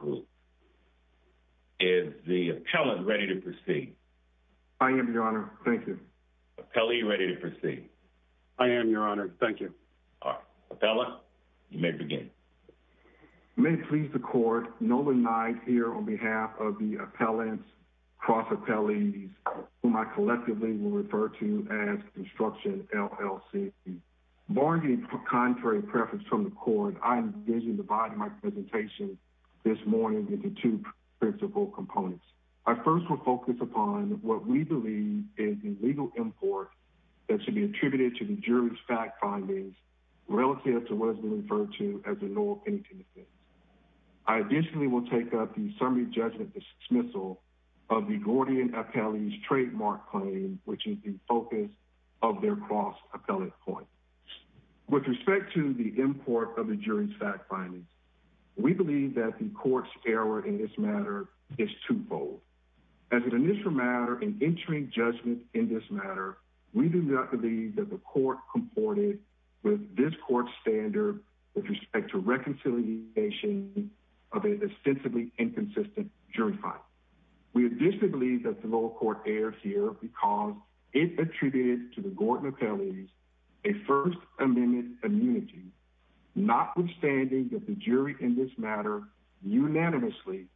Group. Is the appellant ready to proceed? I am, Your Honor. Thank you. Appellant, you ready to proceed? I am, Your Honor. Thank you. All right. Appellant, you may begin. May it please the Court, Nolan Knight here on behalf of the appellants, cross-appellees, whom I collectively will refer to as Construction, L.L.C. Barring any contrary preference from the Court, I am pleased to divide my presentation this morning into two principal components. I first will focus upon what we believe is the legal import that should be attributed to the jury's fact findings relative to what has been referred to as a null opinion defense. I additionally will take up the summary judgment dismissal of the Gordian appellee's trademark claim, which is the focus of their cross-appellate claim. With respect to the import of the jury's fact findings, we believe that the Court's error in this matter is twofold. As an initial matter in entering judgment in this matter, we do not believe that the Court comported with this Court's standard with respect to reconciliation of an ostensibly inconsistent jury finding. We additionally believe that the lower court erred here because it attributed to the Gordian appellees a First Amendment immunity, notwithstanding that the jury in this matter unanimously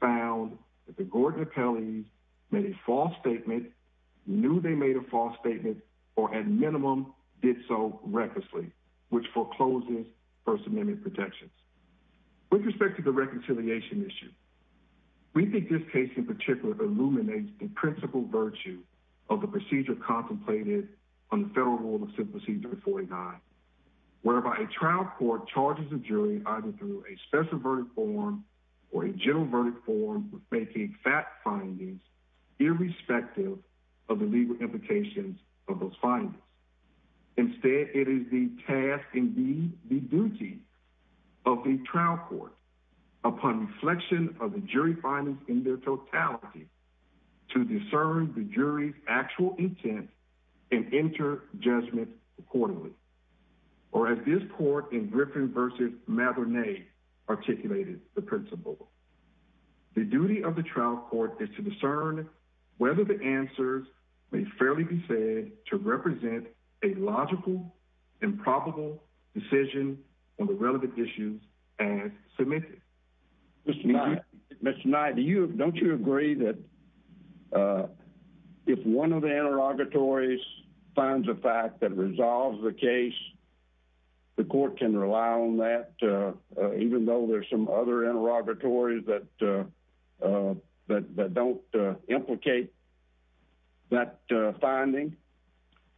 found that the Gordian appellees made a false statement, knew they made a false statement, or at minimum did so recklessly, which forecloses First Amendment protections. With respect to the reconciliation issue, we think this case in particular illuminates the principle virtue of the procedure contemplated on the Federal Rule of Simplicity 39, whereby a trial court charges a jury either through a special verdict form or a general verdict form with making fact findings irrespective of the legal implications of those findings. Instead, it is the task and the duty of the trial court, upon reflection of the jury findings in their totality, to discern the jury's actual intent and enter judgment accordingly. Mr. Knight, Mr. Knight, don't you agree that if one of the interrogatories finds a fact that resolves the case, the court can rely on that, even though there's some other interrogatories that don't implicate that finding,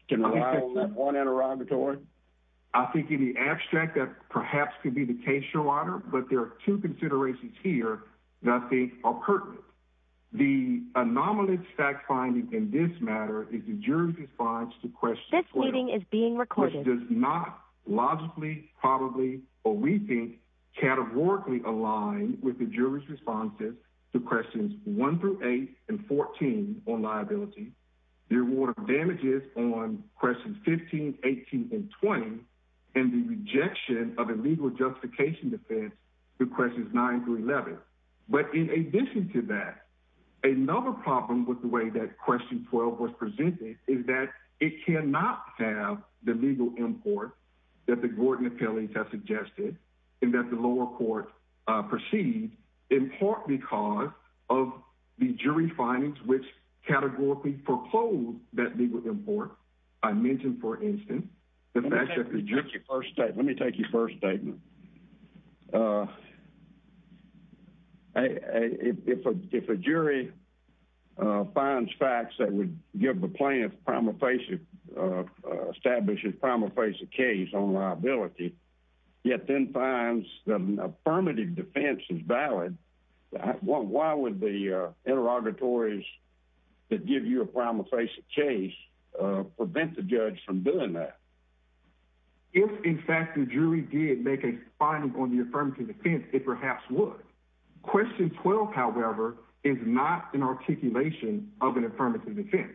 can rely on that one interrogatory? I think in the abstract that perhaps could be the case, Your Honor, but there are two considerations here that I think are pertinent. The anomalous fact finding in this matter is the jury's response to questions 12, which does not logically, probably, or we think, categorically align with the jury's responses to questions 1 through 8 and 14 on liability, the reward of damages on questions 15, 18, and 20, and the rejection of a legal justification defense through questions 9 through 11. But in addition to that, another problem with the way that question 12 was presented is that it cannot have the legal import that the Gordon appellate has suggested, and that the lower court perceived, in part because of the jury findings which categorically propose that legal import. I mentioned, for instance, the fact that the jury... Let me take your first statement. If a jury finds facts that would establish a prima facie case on liability, yet then finds that an affirmative defense is valid, why would the interrogatories that give you a prima facie case prevent the judge from doing that? If, in fact, the jury did make a finding on the affirmative defense, it perhaps would. Question 12, however, is not an articulation of an affirmative defense.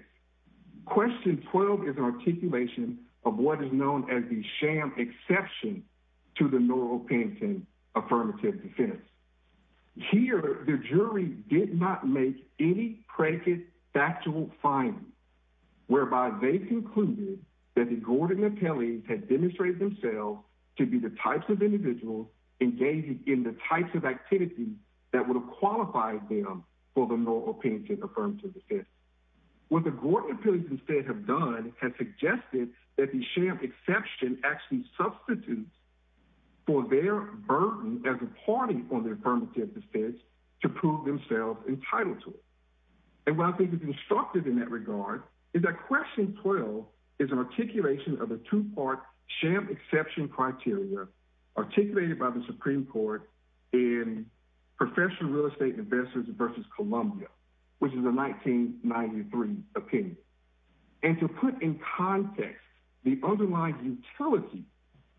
Question 12 is an articulation of what is known as the sham exception to the Norrell-Panton affirmative defense. Here, the jury did not make any predicate factual findings, whereby they concluded that the Gordon appellate had demonstrated themselves to be the types of individuals engaged in the types of activities that would have qualified them for the Norrell-Panton affirmative defense. What the Gordon appellates instead have done has suggested that the sham exception actually substitutes for their burden as a party on the affirmative defense to prove themselves entitled to it. What I think is instructive in that regard is that question 12 is an articulation of a two-part sham exception criteria articulated by the Supreme Court in Professional Real Estate Investors v. Columbia, which is a 1993 opinion. And to put in context the underlying utility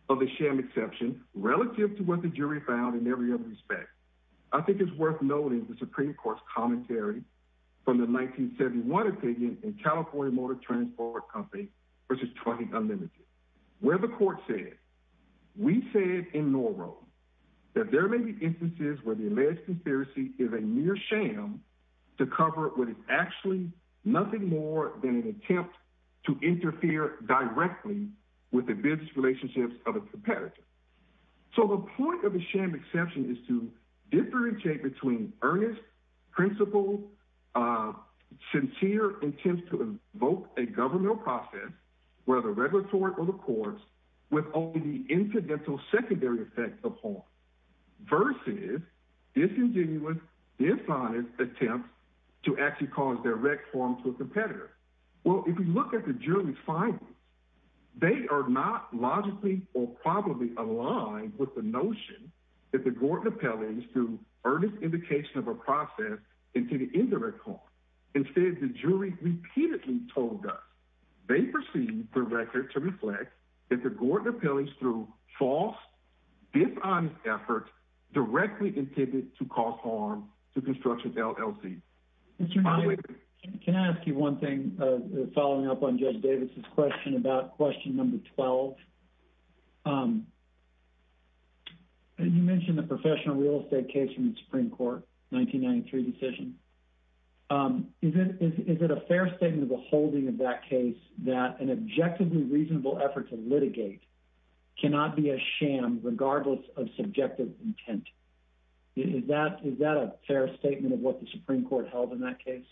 of the sham exception relative to what the jury found in every other respect, I think it's worth noting the Supreme Court's commentary from the 1971 opinion in California Motor Transport Company v. 20 Unlimited, where the court said, We said in Norrell that there may be instances where the alleged conspiracy is a mere sham to cover what is actually nothing more than an attempt to interfere directly with the business relationships of a competitor. So the point of the sham exception is to differentiate between earnest, principled, sincere attempts to invoke a governmental process, whether regulatory or the court's, with only the incidental secondary effects of harm, versus disingenuous, dishonest attempts to actually cause direct harm to a competitor. Well, if you look at the jury's findings, they are not logically or probably aligned with the notion that the Gordon appellees threw earnest indication of a process into the indirect harm. Instead, the jury repeatedly told us they perceived the record to reflect that the Gordon appellees threw false, dishonest efforts directly intended to cause harm to construction LLCs. Can I ask you one thing following up on Judge Davis's question about question number 12? You mentioned the professional real estate case from the Supreme Court, 1993 decision. Is it a fair statement of the holding of that case that an objectively reasonable effort to litigate cannot be a sham regardless of subjective intent? Is that a fair statement of what the Supreme Court held in that case?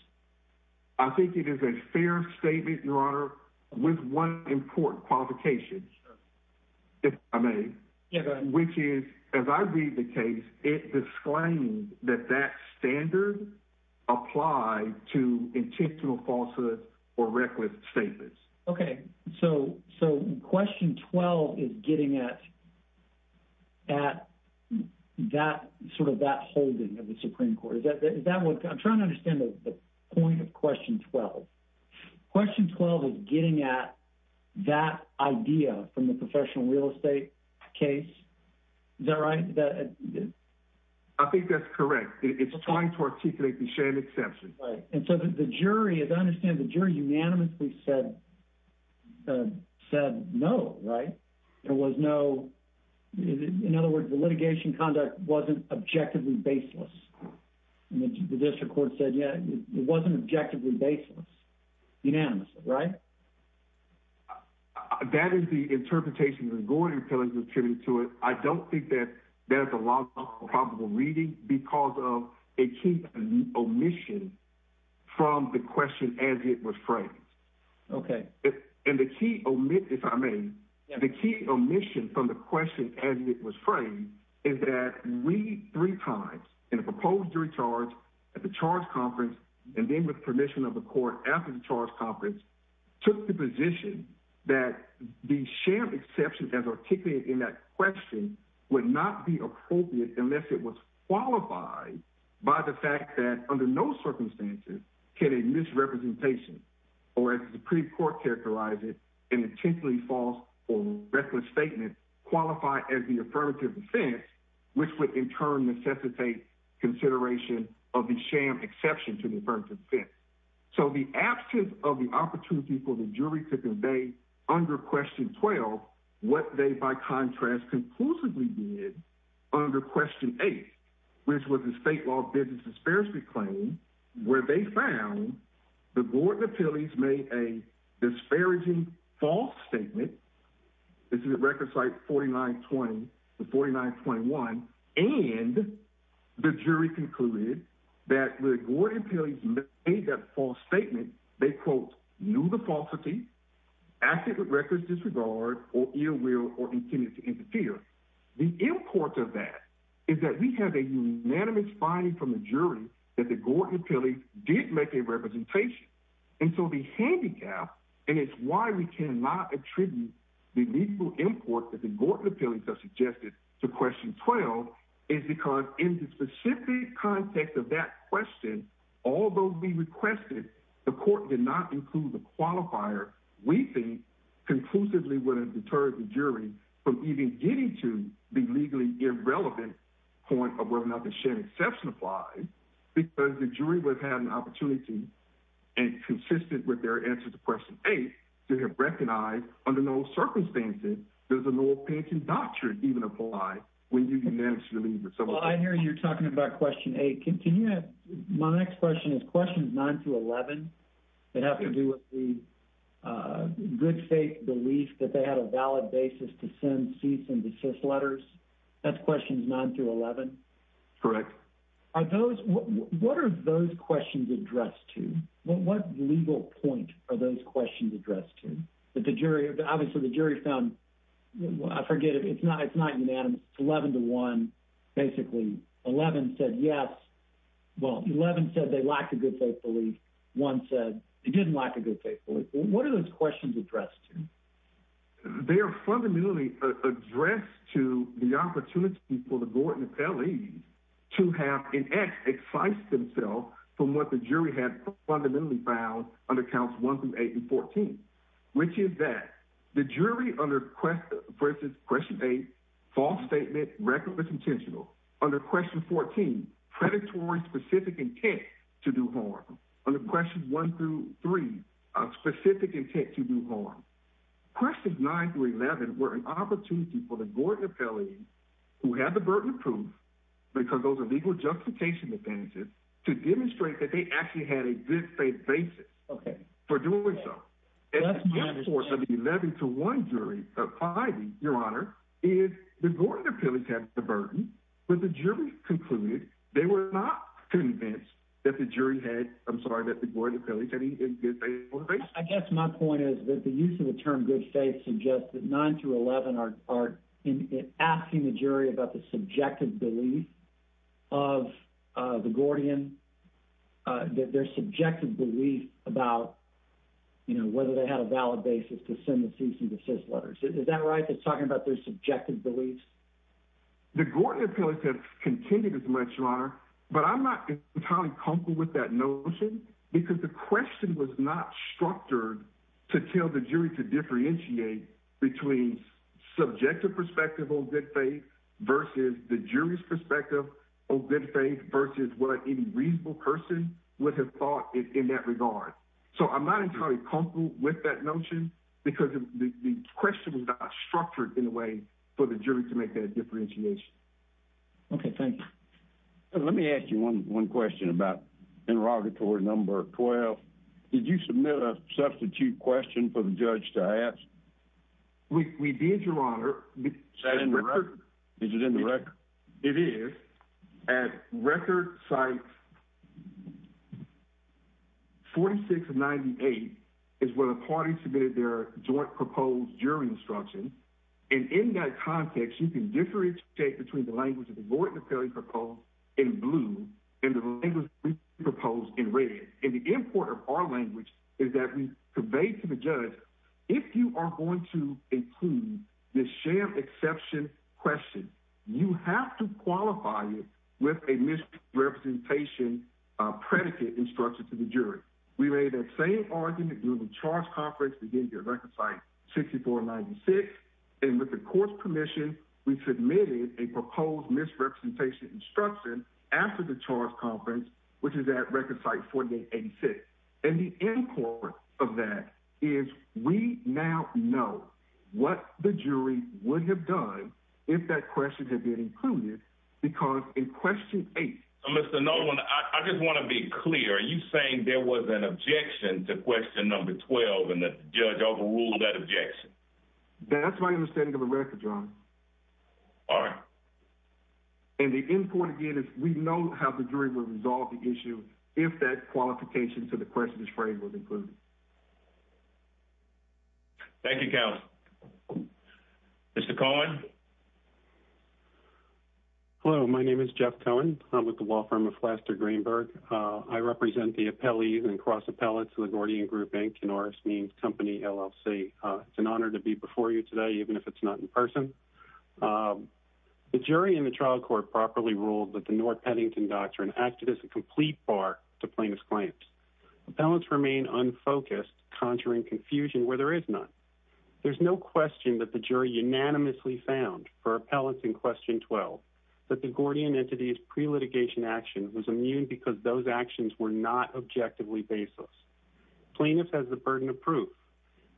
I think it is a fair statement, Your Honor, with one important qualification, if I may. Yeah, go ahead. Which is, as I read the case, it disclaimed that that standard applied to intentional falsehoods or reckless statements. Okay, so question 12 is getting at sort of that holding of the Supreme Court. I'm trying to understand the point of question 12. Question 12 is getting at that idea from the professional real estate case. Is that right? I think that's correct. It's trying to articulate the sham exemption. Right, and so the jury, as I understand, the jury unanimously said no, right? There was no, in other words, the litigation conduct wasn't objectively baseless. The district court said, yeah, it wasn't objectively baseless, unanimously, right? That is the interpretation that Gordon was giving to it. I don't think that there's a lot of probable reading because of a key omission from the question as it was framed. Okay. And the key omission, if I may, the key omission from the question as it was framed is that we, three times, in a proposed jury charge, at the charge conference, and then with permission of the court after the charge conference, took the position that the sham exception as articulated in that question would not be appropriate unless it was qualified by the fact that under no circumstances can a misrepresentation or, as the Supreme Court characterized it, an intentionally false or reckless statement qualify as the affirmative defense, which would in turn necessitate consideration of the sham exception to the affirmative defense. So the absence of the opportunity for the jury to convey under question 12 what they, by contrast, conclusively did under question 8, which was the state law business disparity claim, where they found that Gordon Pilles made a disparaging false statement. This is at record site 4920 to 4921, and the jury concluded that when Gordon Pilles made that false statement, they, quote, knew the falsity, acted with reckless disregard or ill will or intended to interfere. The import of that is that we have a unanimous finding from the jury that the Gordon Pilles did make a representation. And so the handicap, and it's why we cannot attribute the legal import that the Gordon Pilles have suggested to question 12, is because in the specific context of that question, although we requested the court did not include the qualifier, we think conclusively would have deterred the jury from even getting to the legally irrelevant point of whether or not the sham exception applies, because the jury would have had an opportunity, and consistent with their answer to question 8, to have recognized under no circumstances does a law-abiding doctrine even apply when you've managed to deliver. Well, I hear you're talking about question 8. My next question is questions 9 through 11 that have to do with the good faith belief that they had a valid basis to send cease and desist letters. That's questions 9 through 11? Correct. What are those questions addressed to? What legal point are those questions addressed to? Obviously, the jury found, I forget, it's not unanimous. It's 11 to 1. Basically, 11 said yes. Well, 11 said they lacked a good faith belief. One said they didn't lack a good faith belief. What are those questions addressed to? They are fundamentally addressed to the opportunity for the Gordon Pelley to have, in essence, excised themselves from what the jury had fundamentally found under counts 1 through 8 and 14, which is that the jury under, for instance, question 8, false statement, record was intentional. Under question 14, predatory specific intent to do harm. Under questions 1 through 3, specific intent to do harm. Questions 9 through 11 were an opportunity for the Gordon Pelley, who had the burden of proof, because those are legal justification advantages, to demonstrate that they actually had a good faith basis for doing so. That's my understanding. Whether they had a valid basis to send the cease and desist letters. Is that right? They're talking about their subjective beliefs? The Gordon Pelley has contended as much, Your Honor, but I'm not entirely comfortable with that notion, because the question was not structured to tell the jury to differentiate between subjective perspective on good faith versus the jury's perspective on good faith versus what any reasonable person would have thought in that regard. So I'm not entirely comfortable with that notion, because the question was not structured in a way for the jury to make that differentiation. Okay, thank you. Let me ask you one question about interrogatory number 12. Did you submit a substitute question for the judge to ask? We did, Your Honor. Is it in the record? It is. At record site 46 of 98 is where the party submitted their joint proposed jury instruction. And in that context, you can differentiate between the language that the Gordon Pelley proposed in blue and the language we proposed in red. And the import of our language is that we conveyed to the judge, if you are going to include the sham exception question, you have to qualify it with a misrepresentation predicate instruction to the jury. We made that same argument during the charge conference at record site 64 of 96, and with the court's permission, we submitted a proposed misrepresentation instruction after the charge conference, which is at record site 48 of 86. And the import of that is we now know what the jury would have done if that question had been included, because in question 8... Mr. Nolan, I just want to be clear. Are you saying there was an objection to question number 12 and that the judge overruled that objection? That's my understanding of the record, Your Honor. All right. And the import, again, is we know how the jury would resolve the issue if that qualification to the question is framed was included. Thank you, counsel. Mr. Cohen? Hello. My name is Jeff Cohen. I'm with the law firm of Flaster Greenberg. I represent the appellees and cross appellates of the Gordian Group, Inc. and Oris Means Company, LLC. It's an honor to be before you today, even if it's not in person. The jury in the trial court properly ruled that the North Paddington Doctrine acted as a complete bar to plaintiff's claims. Appellants remain unfocused, conjuring confusion where there is none. There's no question that the jury unanimously found for appellants in question 12 that the Gordian entity's pre-litigation action was immune because those actions were not objectively baseless. Plaintiff has the burden of proof,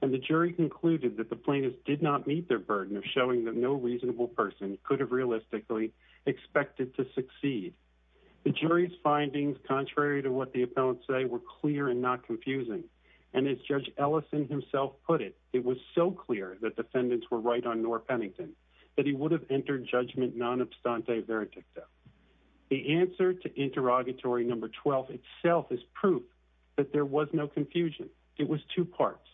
and the jury concluded that the plaintiff did not meet their burden of showing that no reasonable person could have realistically expected to succeed. The jury's findings, contrary to what the appellants say, were clear and not confusing. And as Judge Ellison himself put it, it was so clear that defendants were right on North Paddington that he would have entered judgment non obstante veredicta. The answer to interrogatory number 12 itself is proof that there was no confusion. It was two parts.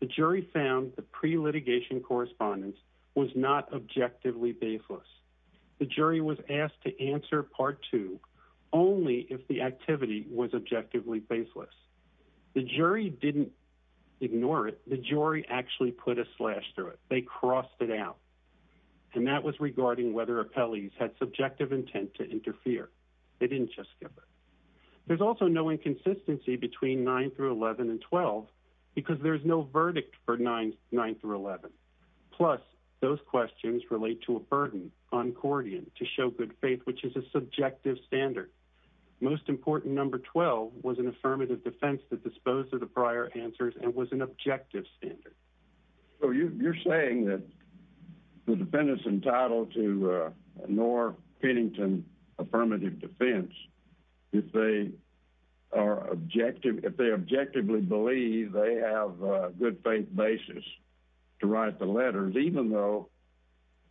The jury found the pre-litigation correspondence was not objectively baseless. The jury was asked to answer part two only if the activity was objectively baseless. The jury didn't ignore it. The jury actually put a slash through it. They crossed it out. And that was regarding whether appellees had subjective intent to interfere. They didn't just give it. There's also no inconsistency between 9 through 11 and 12 because there's no verdict for 9 through 11. Plus, those questions relate to a burden on Gordian to show good faith, which is a subjective standard. Most important, number 12 was an affirmative defense that disposed of the prior answers and was an objective standard. So you're saying that the defendants entitled to a North Paddington affirmative defense, if they objectively believe they have a good faith basis to write the letters, even though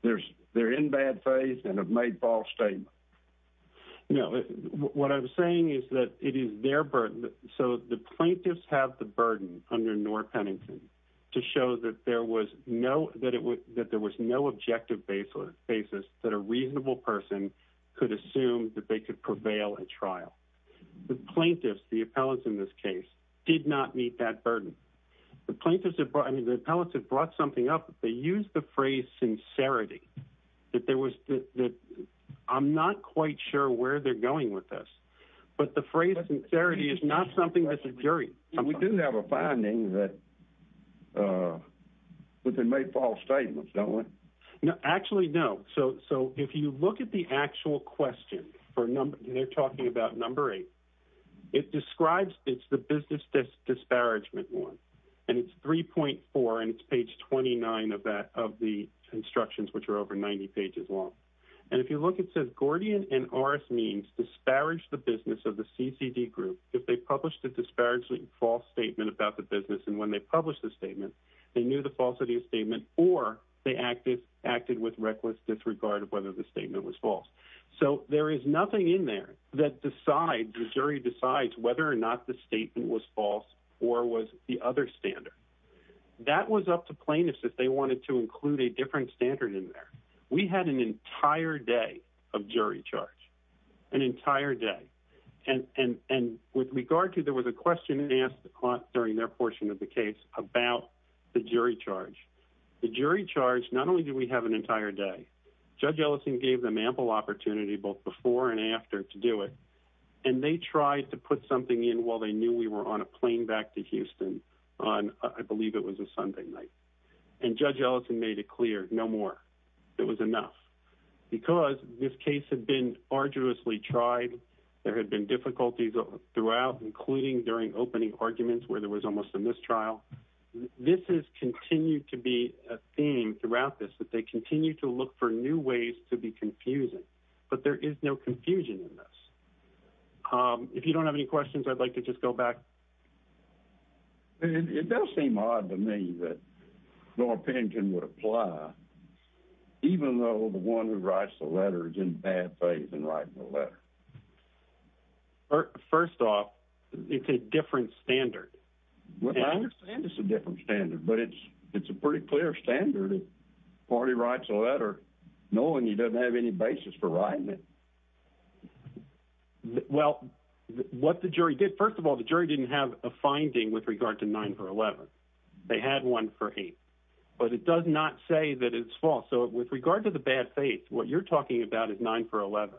they're in bad faith and have made false statements? No. What I'm saying is that it is their burden. So the plaintiffs have the burden under North Paddington to show that there was no objective basis that a reasonable person could assume that they could prevail at trial. The plaintiffs, the appellants in this case, did not meet that burden. The appellants have brought something up. They used the phrase sincerity. I'm not quite sure where they're going with this, but the phrase sincerity is not something that's a jury. We do have a finding that they made false statements, don't we? Actually, no. So if you look at the actual question, they're talking about number eight. It's the business disparagement one. And it's 3.4 and it's page 29 of the instructions, which are over 90 pages long. And if you look, it says Gordian and Orris Means disparaged the business of the CCD group if they published a disparaging false statement about the business. And when they published the statement, they knew the falsity of statement or they acted with reckless disregard of whether the statement was false. So there is nothing in there that decides, the jury decides, whether or not the statement was false or was the other standard. That was up to plaintiffs if they wanted to include a different standard in there. We had an entire day of jury charge, an entire day. And with regard to, there was a question asked during their portion of the case about the jury charge. The jury charge, not only did we have an entire day, Judge Ellison gave them ample opportunity both before and after to do it. And they tried to put something in while they knew we were on a plane back to Houston on, I believe it was a Sunday night. And Judge Ellison made it clear, no more. It was enough. Because this case had been arduously tried. There had been difficulties throughout, including during opening arguments where there was almost a mistrial. This has continued to be a theme throughout this, that they continue to look for new ways to be confusing. But there is no confusion in this. If you don't have any questions, I'd like to just go back. It does seem odd to me that Norpinkin would apply, even though the one who writes the letter is in bad faith in writing the letter. First off, it's a different standard. It's a different standard, but it's a pretty clear standard if a party writes a letter knowing he doesn't have any basis for writing it. Well, what the jury did, first of all, the jury didn't have a finding with regard to 9-11. They had one for 8. But it does not say that it's false. So with regard to the bad faith, what you're talking about is 9-11.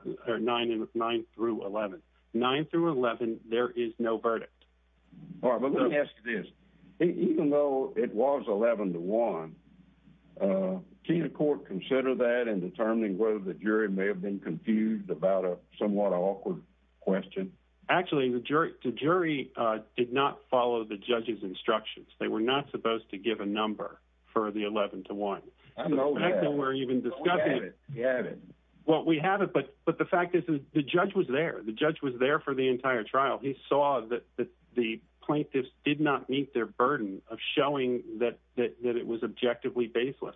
9-11, there is no verdict. All right, but let me ask you this. Even though it was 11-1, can the court consider that in determining whether the jury may have been confused about a somewhat awkward question? Actually, the jury did not follow the judge's instructions. They were not supposed to give a number for the 11-1. I know that. But we have it. But the fact is, the judge was there. The judge was there for the entire trial. He saw that the plaintiffs did not meet their burden of showing that it was objectively baseless.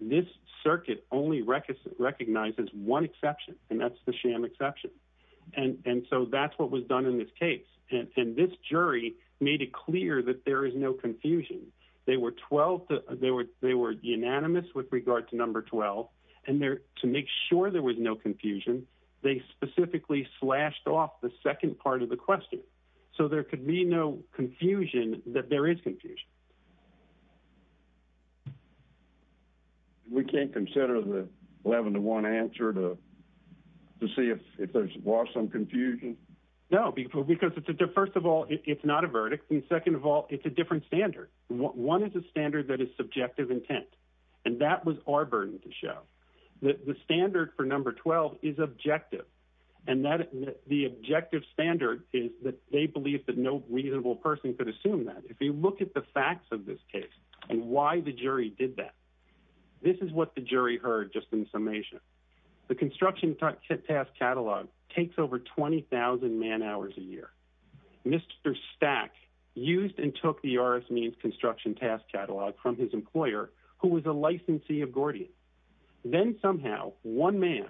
This circuit only recognizes one exception, and that's the sham exception. And so that's what was done in this case. And this jury made it clear that there is no confusion. They were unanimous with regard to number 12. And to make sure there was no confusion, they specifically slashed off the second part of the question. So there could be no confusion that there is confusion. We can't consider the 11-1 answer to see if there was some confusion? No, because first of all, it's not a verdict. And second of all, it's a different standard. One is a standard that is subjective intent. And that was our burden to show. The standard for number 12 is objective. And the objective standard is that they believe that no reasonable person could assume that. If you look at the facts of this case and why the jury did that, this is what the jury heard just in summation. The construction task catalog takes over 20,000 man hours a year. Mr. Stack used and took the RS Means construction task catalog from his employer, who was a licensee of Gordian. Then somehow one man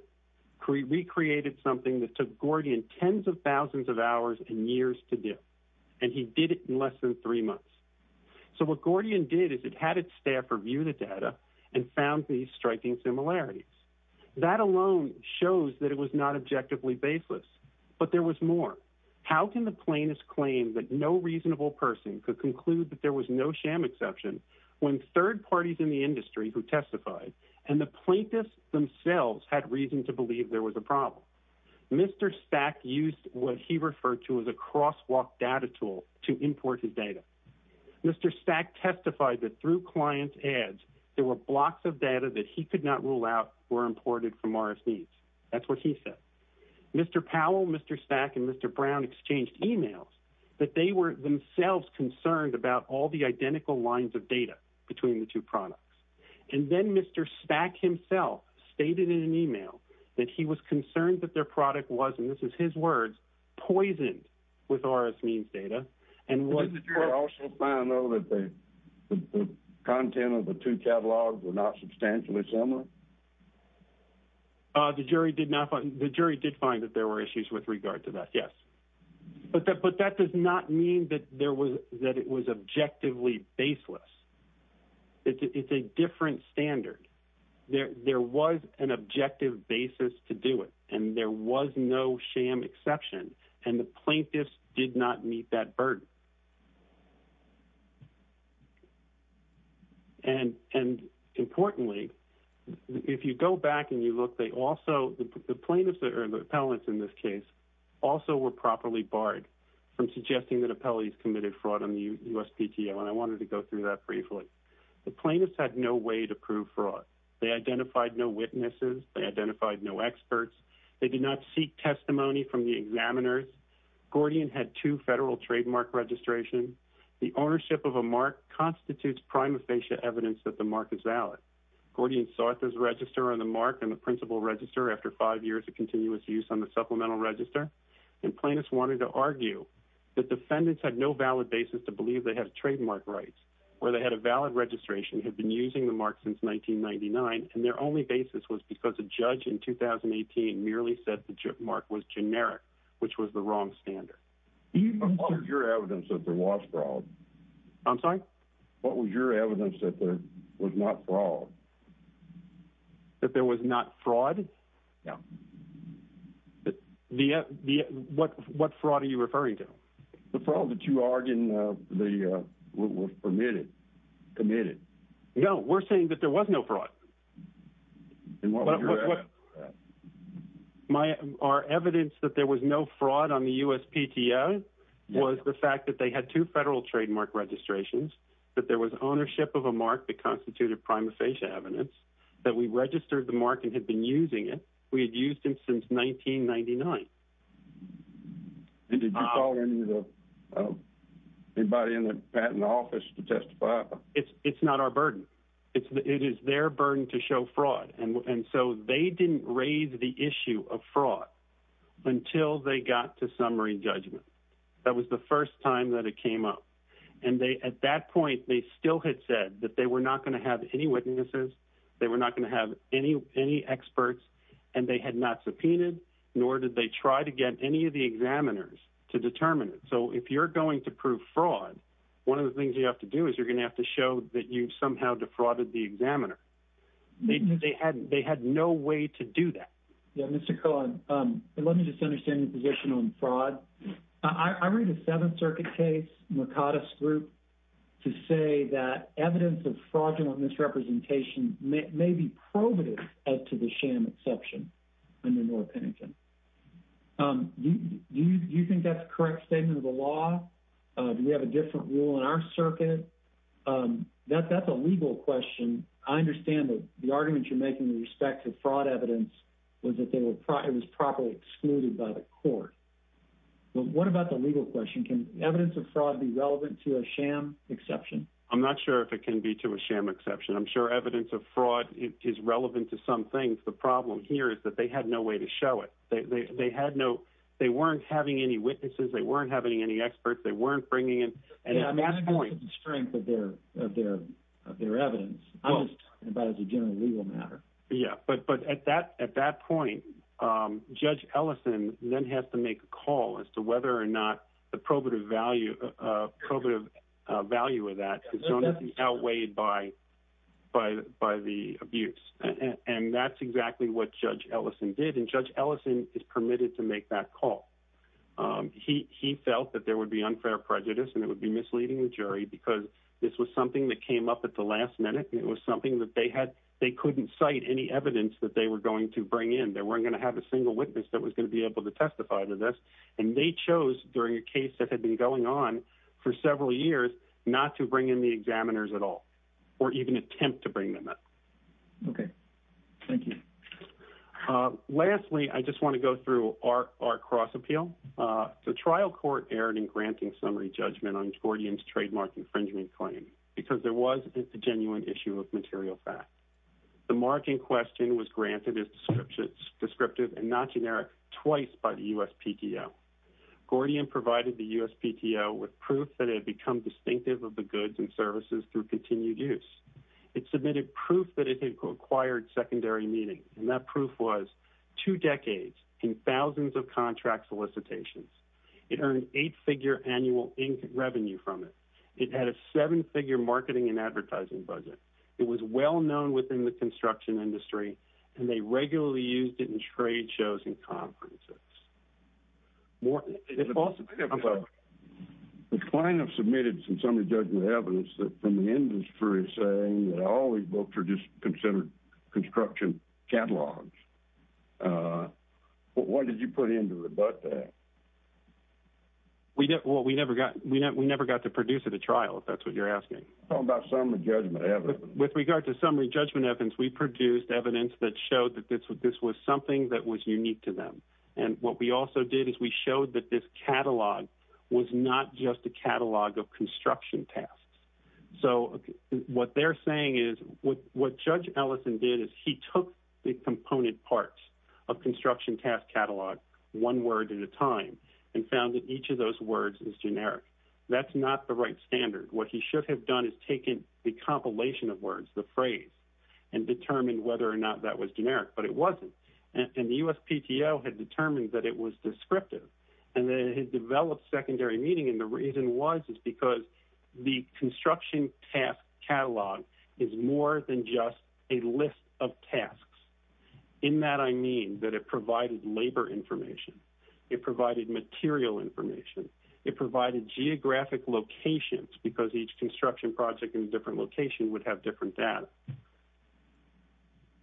recreated something that took Gordian tens of thousands of hours and years to do. And he did it in less than three months. So what Gordian did is it had its staff review the data and found these striking similarities. That alone shows that it was not objectively baseless. But there was more. How can the plaintiffs claim that no reasonable person could conclude that there was no sham exception when third parties in the industry who testified and the plaintiffs themselves had reason to believe there was a problem? Mr. Stack used what he referred to as a crosswalk data tool to import his data. Mr. Stack testified that through client ads, there were blocks of data that he could not rule out were imported from RS Needs. That's what he said. Mr. Powell, Mr. Stack, and Mr. Brown exchanged emails that they were themselves concerned about all the identical lines of data between the two products. And then Mr. Stack himself stated in an email that he was concerned that their product was, and this is his words, poisoned with RS Means data. Did the jury also find though that the content of the two catalogs were not substantially similar? The jury did find that there were issues with regard to that, yes. But that does not mean that it was objectively baseless. It's a different standard. There was an objective basis to do it, and there was no sham exception, and the plaintiffs did not meet that burden. And importantly, if you go back and you look, the plaintiffs, or the appellants in this case, also were properly barred from suggesting that appellees committed fraud on the USPTO, and I wanted to go through that briefly. The plaintiffs had no way to prove fraud. They identified no witnesses. They identified no experts. They did not seek testimony from the examiners. Gordian had two federal trademark registrations. The ownership of a mark constitutes prima facie evidence that the mark is valid. Gordian sought this register on the mark and the principal register after five years of continuous use on the supplemental register. And plaintiffs wanted to argue that defendants had no valid basis to believe they had trademark rights, or they had a valid registration, had been using the mark since 1999, and their only basis was because a judge in 2018 merely said the mark was generic, which was the wrong standard. What was your evidence that there was fraud? I'm sorry? What was your evidence that there was not fraud? That there was not fraud? No. What fraud are you referring to? The fraud that you argued was permitted, committed. No, we're saying that there was no fraud. And what was your evidence for that? Our evidence that there was no fraud on the USPTO was the fact that they had two federal trademark registrations, that there was ownership of a mark that constituted prima facie evidence, that we registered the mark and had been using it. We had used it since 1999. And did you call anybody in the patent office to testify? It's not our burden. It is their burden to show fraud. And so they didn't raise the issue of fraud until they got to summary judgment. That was the first time that it came up. And at that point, they still had said that they were not going to have any witnesses, they were not going to have any experts, and they had not subpoenaed, nor did they try to get any of the examiners to determine it. And so if you're going to prove fraud, one of the things you have to do is you're going to have to show that you've somehow defrauded the examiner. They had no way to do that. Yeah, Mr. Cohn, let me just understand your position on fraud. I read a Seventh Circuit case, Mercatus Group, to say that evidence of fraudulent misrepresentation may be probative as to the sham exception under North Pennington. Do you think that's a correct statement of the law? Do we have a different rule in our circuit? That's a legal question. I understand that the argument you're making with respect to fraud evidence was that it was properly excluded by the court. But what about the legal question? Can evidence of fraud be relevant to a sham exception? I'm not sure if it can be to a sham exception. I'm sure evidence of fraud is relevant to some things. The problem here is that they had no way to show it. They weren't having any witnesses, they weren't having any experts, they weren't bringing in... I'm not talking about the strength of their evidence. I'm just talking about it as a general legal matter. Yeah, but at that point, Judge Ellison then has to make a call as to whether or not the probative value of that is going to be outweighed by the abuse. And that's exactly what Judge Ellison did, and Judge Ellison is permitted to make that call. He felt that there would be unfair prejudice and it would be misleading the jury because this was something that came up at the last minute. It was something that they couldn't cite any evidence that they were going to bring in. They weren't going to have a single witness that was going to be able to testify to this. And they chose, during a case that had been going on for several years, not to bring in the examiners at all, or even attempt to bring them in. Okay. Thank you. Lastly, I just want to go through our cross-appeal. The trial court erred in granting summary judgment on Gordian's trademark infringement claim because there was a genuine issue of material fact. The marking question was granted as descriptive and not generic twice by the USPTO. Gordian provided the USPTO with proof that it had become distinctive of the goods and services through continued use. It submitted proof that it had acquired secondary meaning, and that proof was two decades and thousands of contract solicitations. It earned eight-figure annual revenue from it. It had a seven-figure marketing and advertising budget. It was well-known within the construction industry, and they regularly used it in trade shows and conferences. Morton. The client has submitted some summary judgment evidence that the industry is saying that all these books are just considered construction catalogs. What did you put into it about that? Well, we never got to produce it at trial, if that's what you're asking. How about summary judgment evidence? With regard to summary judgment evidence, we produced evidence that showed that this was something that was unique to them. What we also did is we showed that this catalog was not just a catalog of construction tasks. What they're saying is what Judge Ellison did is he took the component parts of construction task catalog one word at a time and found that each of those words is generic. That's not the right standard. What he should have done is taken the compilation of words, the phrase, and determined whether or not that was generic, but it wasn't. The USPTO had determined that it was descriptive. It had developed secondary meaning, and the reason was is because the construction task catalog is more than just a list of tasks. In that, I mean that it provided labor information. It provided material information. It provided geographic locations because each construction project in a different location would have different data.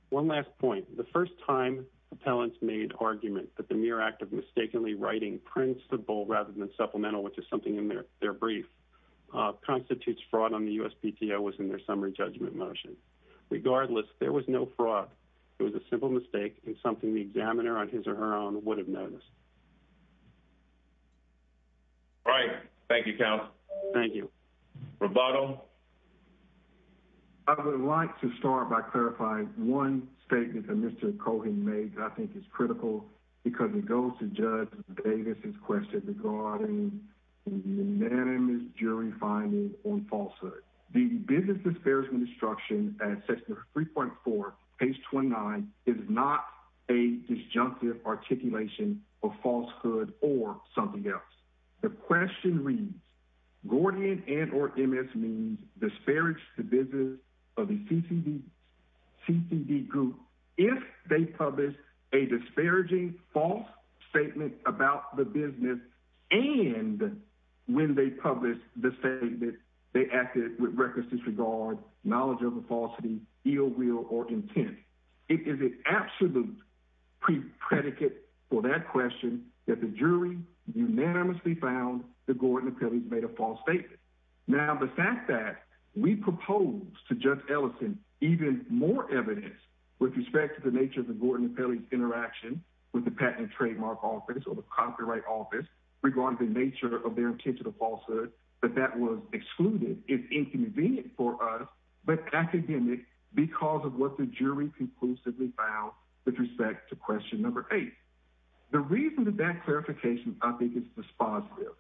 One last point. The first time appellants made argument that the mere act of mistakenly writing principle rather than supplemental, which is something in their brief, constitutes fraud on the USPTO was in their summary judgment motion. Regardless, there was no fraud. It was a simple mistake and something the examiner on his or her own would have noticed. All right. Thank you, Counsel. Thank you. Roberto? I would like to start by clarifying one statement that Mr. Cohan made that I think is critical because it goes to Judge Davis' question regarding the unanimous jury finding on falsehood. The business disparagement instruction at section 3.4, page 29, is not a disjunctive articulation of falsehood or something else. The question reads, Gordian and or MS means disparage the business of a CCD group if they publish a disparaging false statement about the business and when they publish the statement they acted with reckless disregard, knowledge of a falsity, ill will, or intent. It is an absolute pre-predicate for that question that the jury unanimously found that Gordian and Pelley made a false statement. Now, the fact that we propose to Judge Ellison even more evidence with respect to the nature of the Gordian and Pelley's interaction with the Patent and Trademark Office or the Copyright Office, regarding the nature of their intention of falsehood, that that was excluded is inconvenient for us, but academic because of what the jury conclusively found with respect to question number eight. The reason that that clarification I think is dispositive,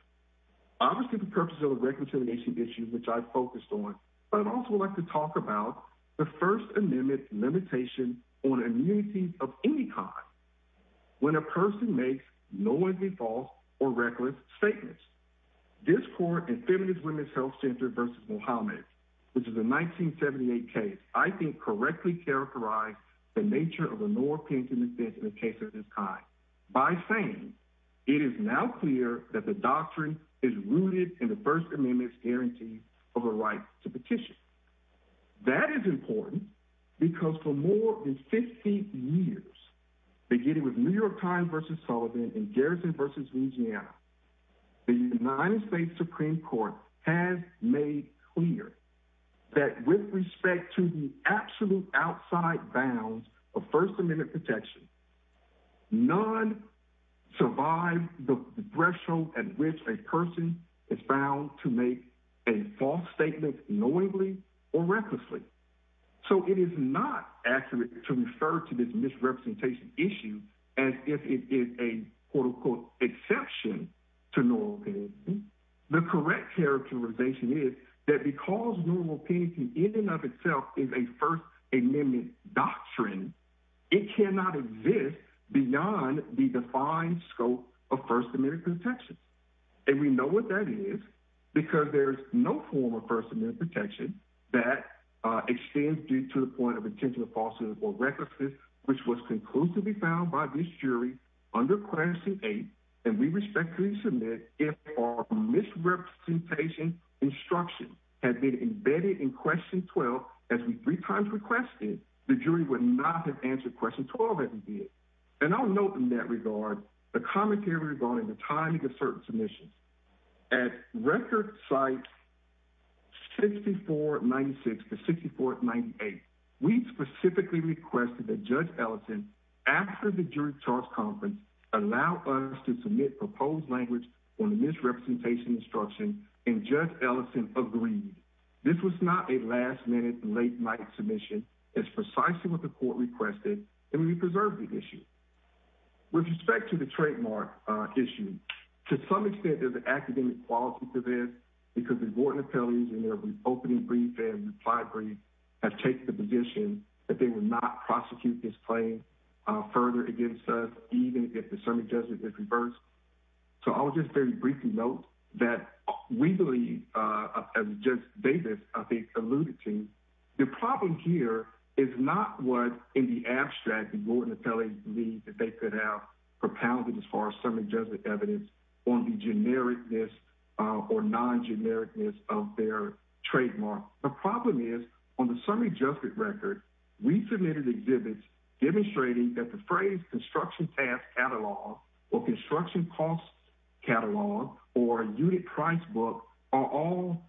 obviously for purposes of reconciliation issues which I focused on, but I'd also like to talk about the First Amendment limitation on immunity of any kind. When a person makes knowingly false or reckless statements, this court in Feminist Women's Health Center v. Mohammed, which is a 1978 case, I think correctly characterized the nature of a no opinion defense in a case of this kind by saying it is now clear that the doctrine is rooted in the First Amendment's guarantee of a right to petition. That is important because for more than 50 years, beginning with New York Times v. Sullivan and Garrison v. Louisiana, the United States Supreme Court has made clear that with respect to the absolute outside bounds of First Amendment protection, none survive the threshold at which a person is bound to make a false statement knowingly or recklessly. So it is not accurate to refer to this misrepresentation issue as if it is a quote unquote exception to normal opinion. The correct characterization is that because normal opinion in and of itself is a First Amendment doctrine, it cannot exist beyond the defined scope of First Amendment protection. And we know what that is because there is no form of First Amendment protection that extends due to the point of intention of falsehood or recklessness, which was conclusively found by this jury under Classing 8, and we respectfully submit if our misrepresentation instruction had been embedded in Question 12 as we three times requested, the jury would not have answered Question 12 as we did. And I'll note in that regard the commentary regarding the timing of certain submissions. At Record Cites 6496 to 6498, we specifically requested that Judge Ellison, after the jury charge conference, allow us to submit proposed language on the misrepresentation instruction, and Judge Ellison agreed. This was not a last-minute, late-night submission. It's precisely what the court requested, and we preserve the issue. With respect to the trademark issue, to some extent there's an academic quality to this because the board and appellees in their opening brief and reply brief have taken the position that they will not prosecute this claim further against us, even if the summary judgment is reversed. So I'll just very briefly note that we believe, as Judge Davis I think alluded to, the problem here is not what, in the abstract, the board and appellees believe that they could have propounded as far as summary judgment evidence on the genericness or non-genericness of their trademark. The problem is, on the summary judgment record, we submitted exhibits demonstrating that the phrase construction task catalog or construction cost catalog or unit price book are all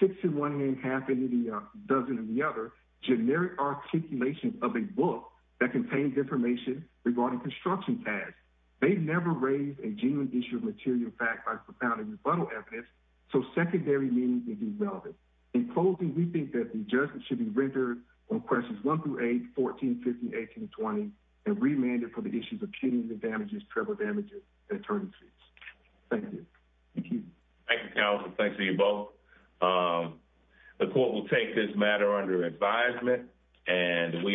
six in one hand, half in the other, generic articulation of a book that contains information regarding construction tasks. They've never raised a genuine issue of material fact by propounding rebuttal evidence, so secondary meaning may be relevant. In closing, we think that the judgment should be rendered on questions 1 through 8, 14, 15, 18, and 20, and remanded for the issues of punitive damages, tribal damages, and attorneys' fees. Thank you. Thank you, counsel. Thanks to you both. The court will take this matter under advisement, and we are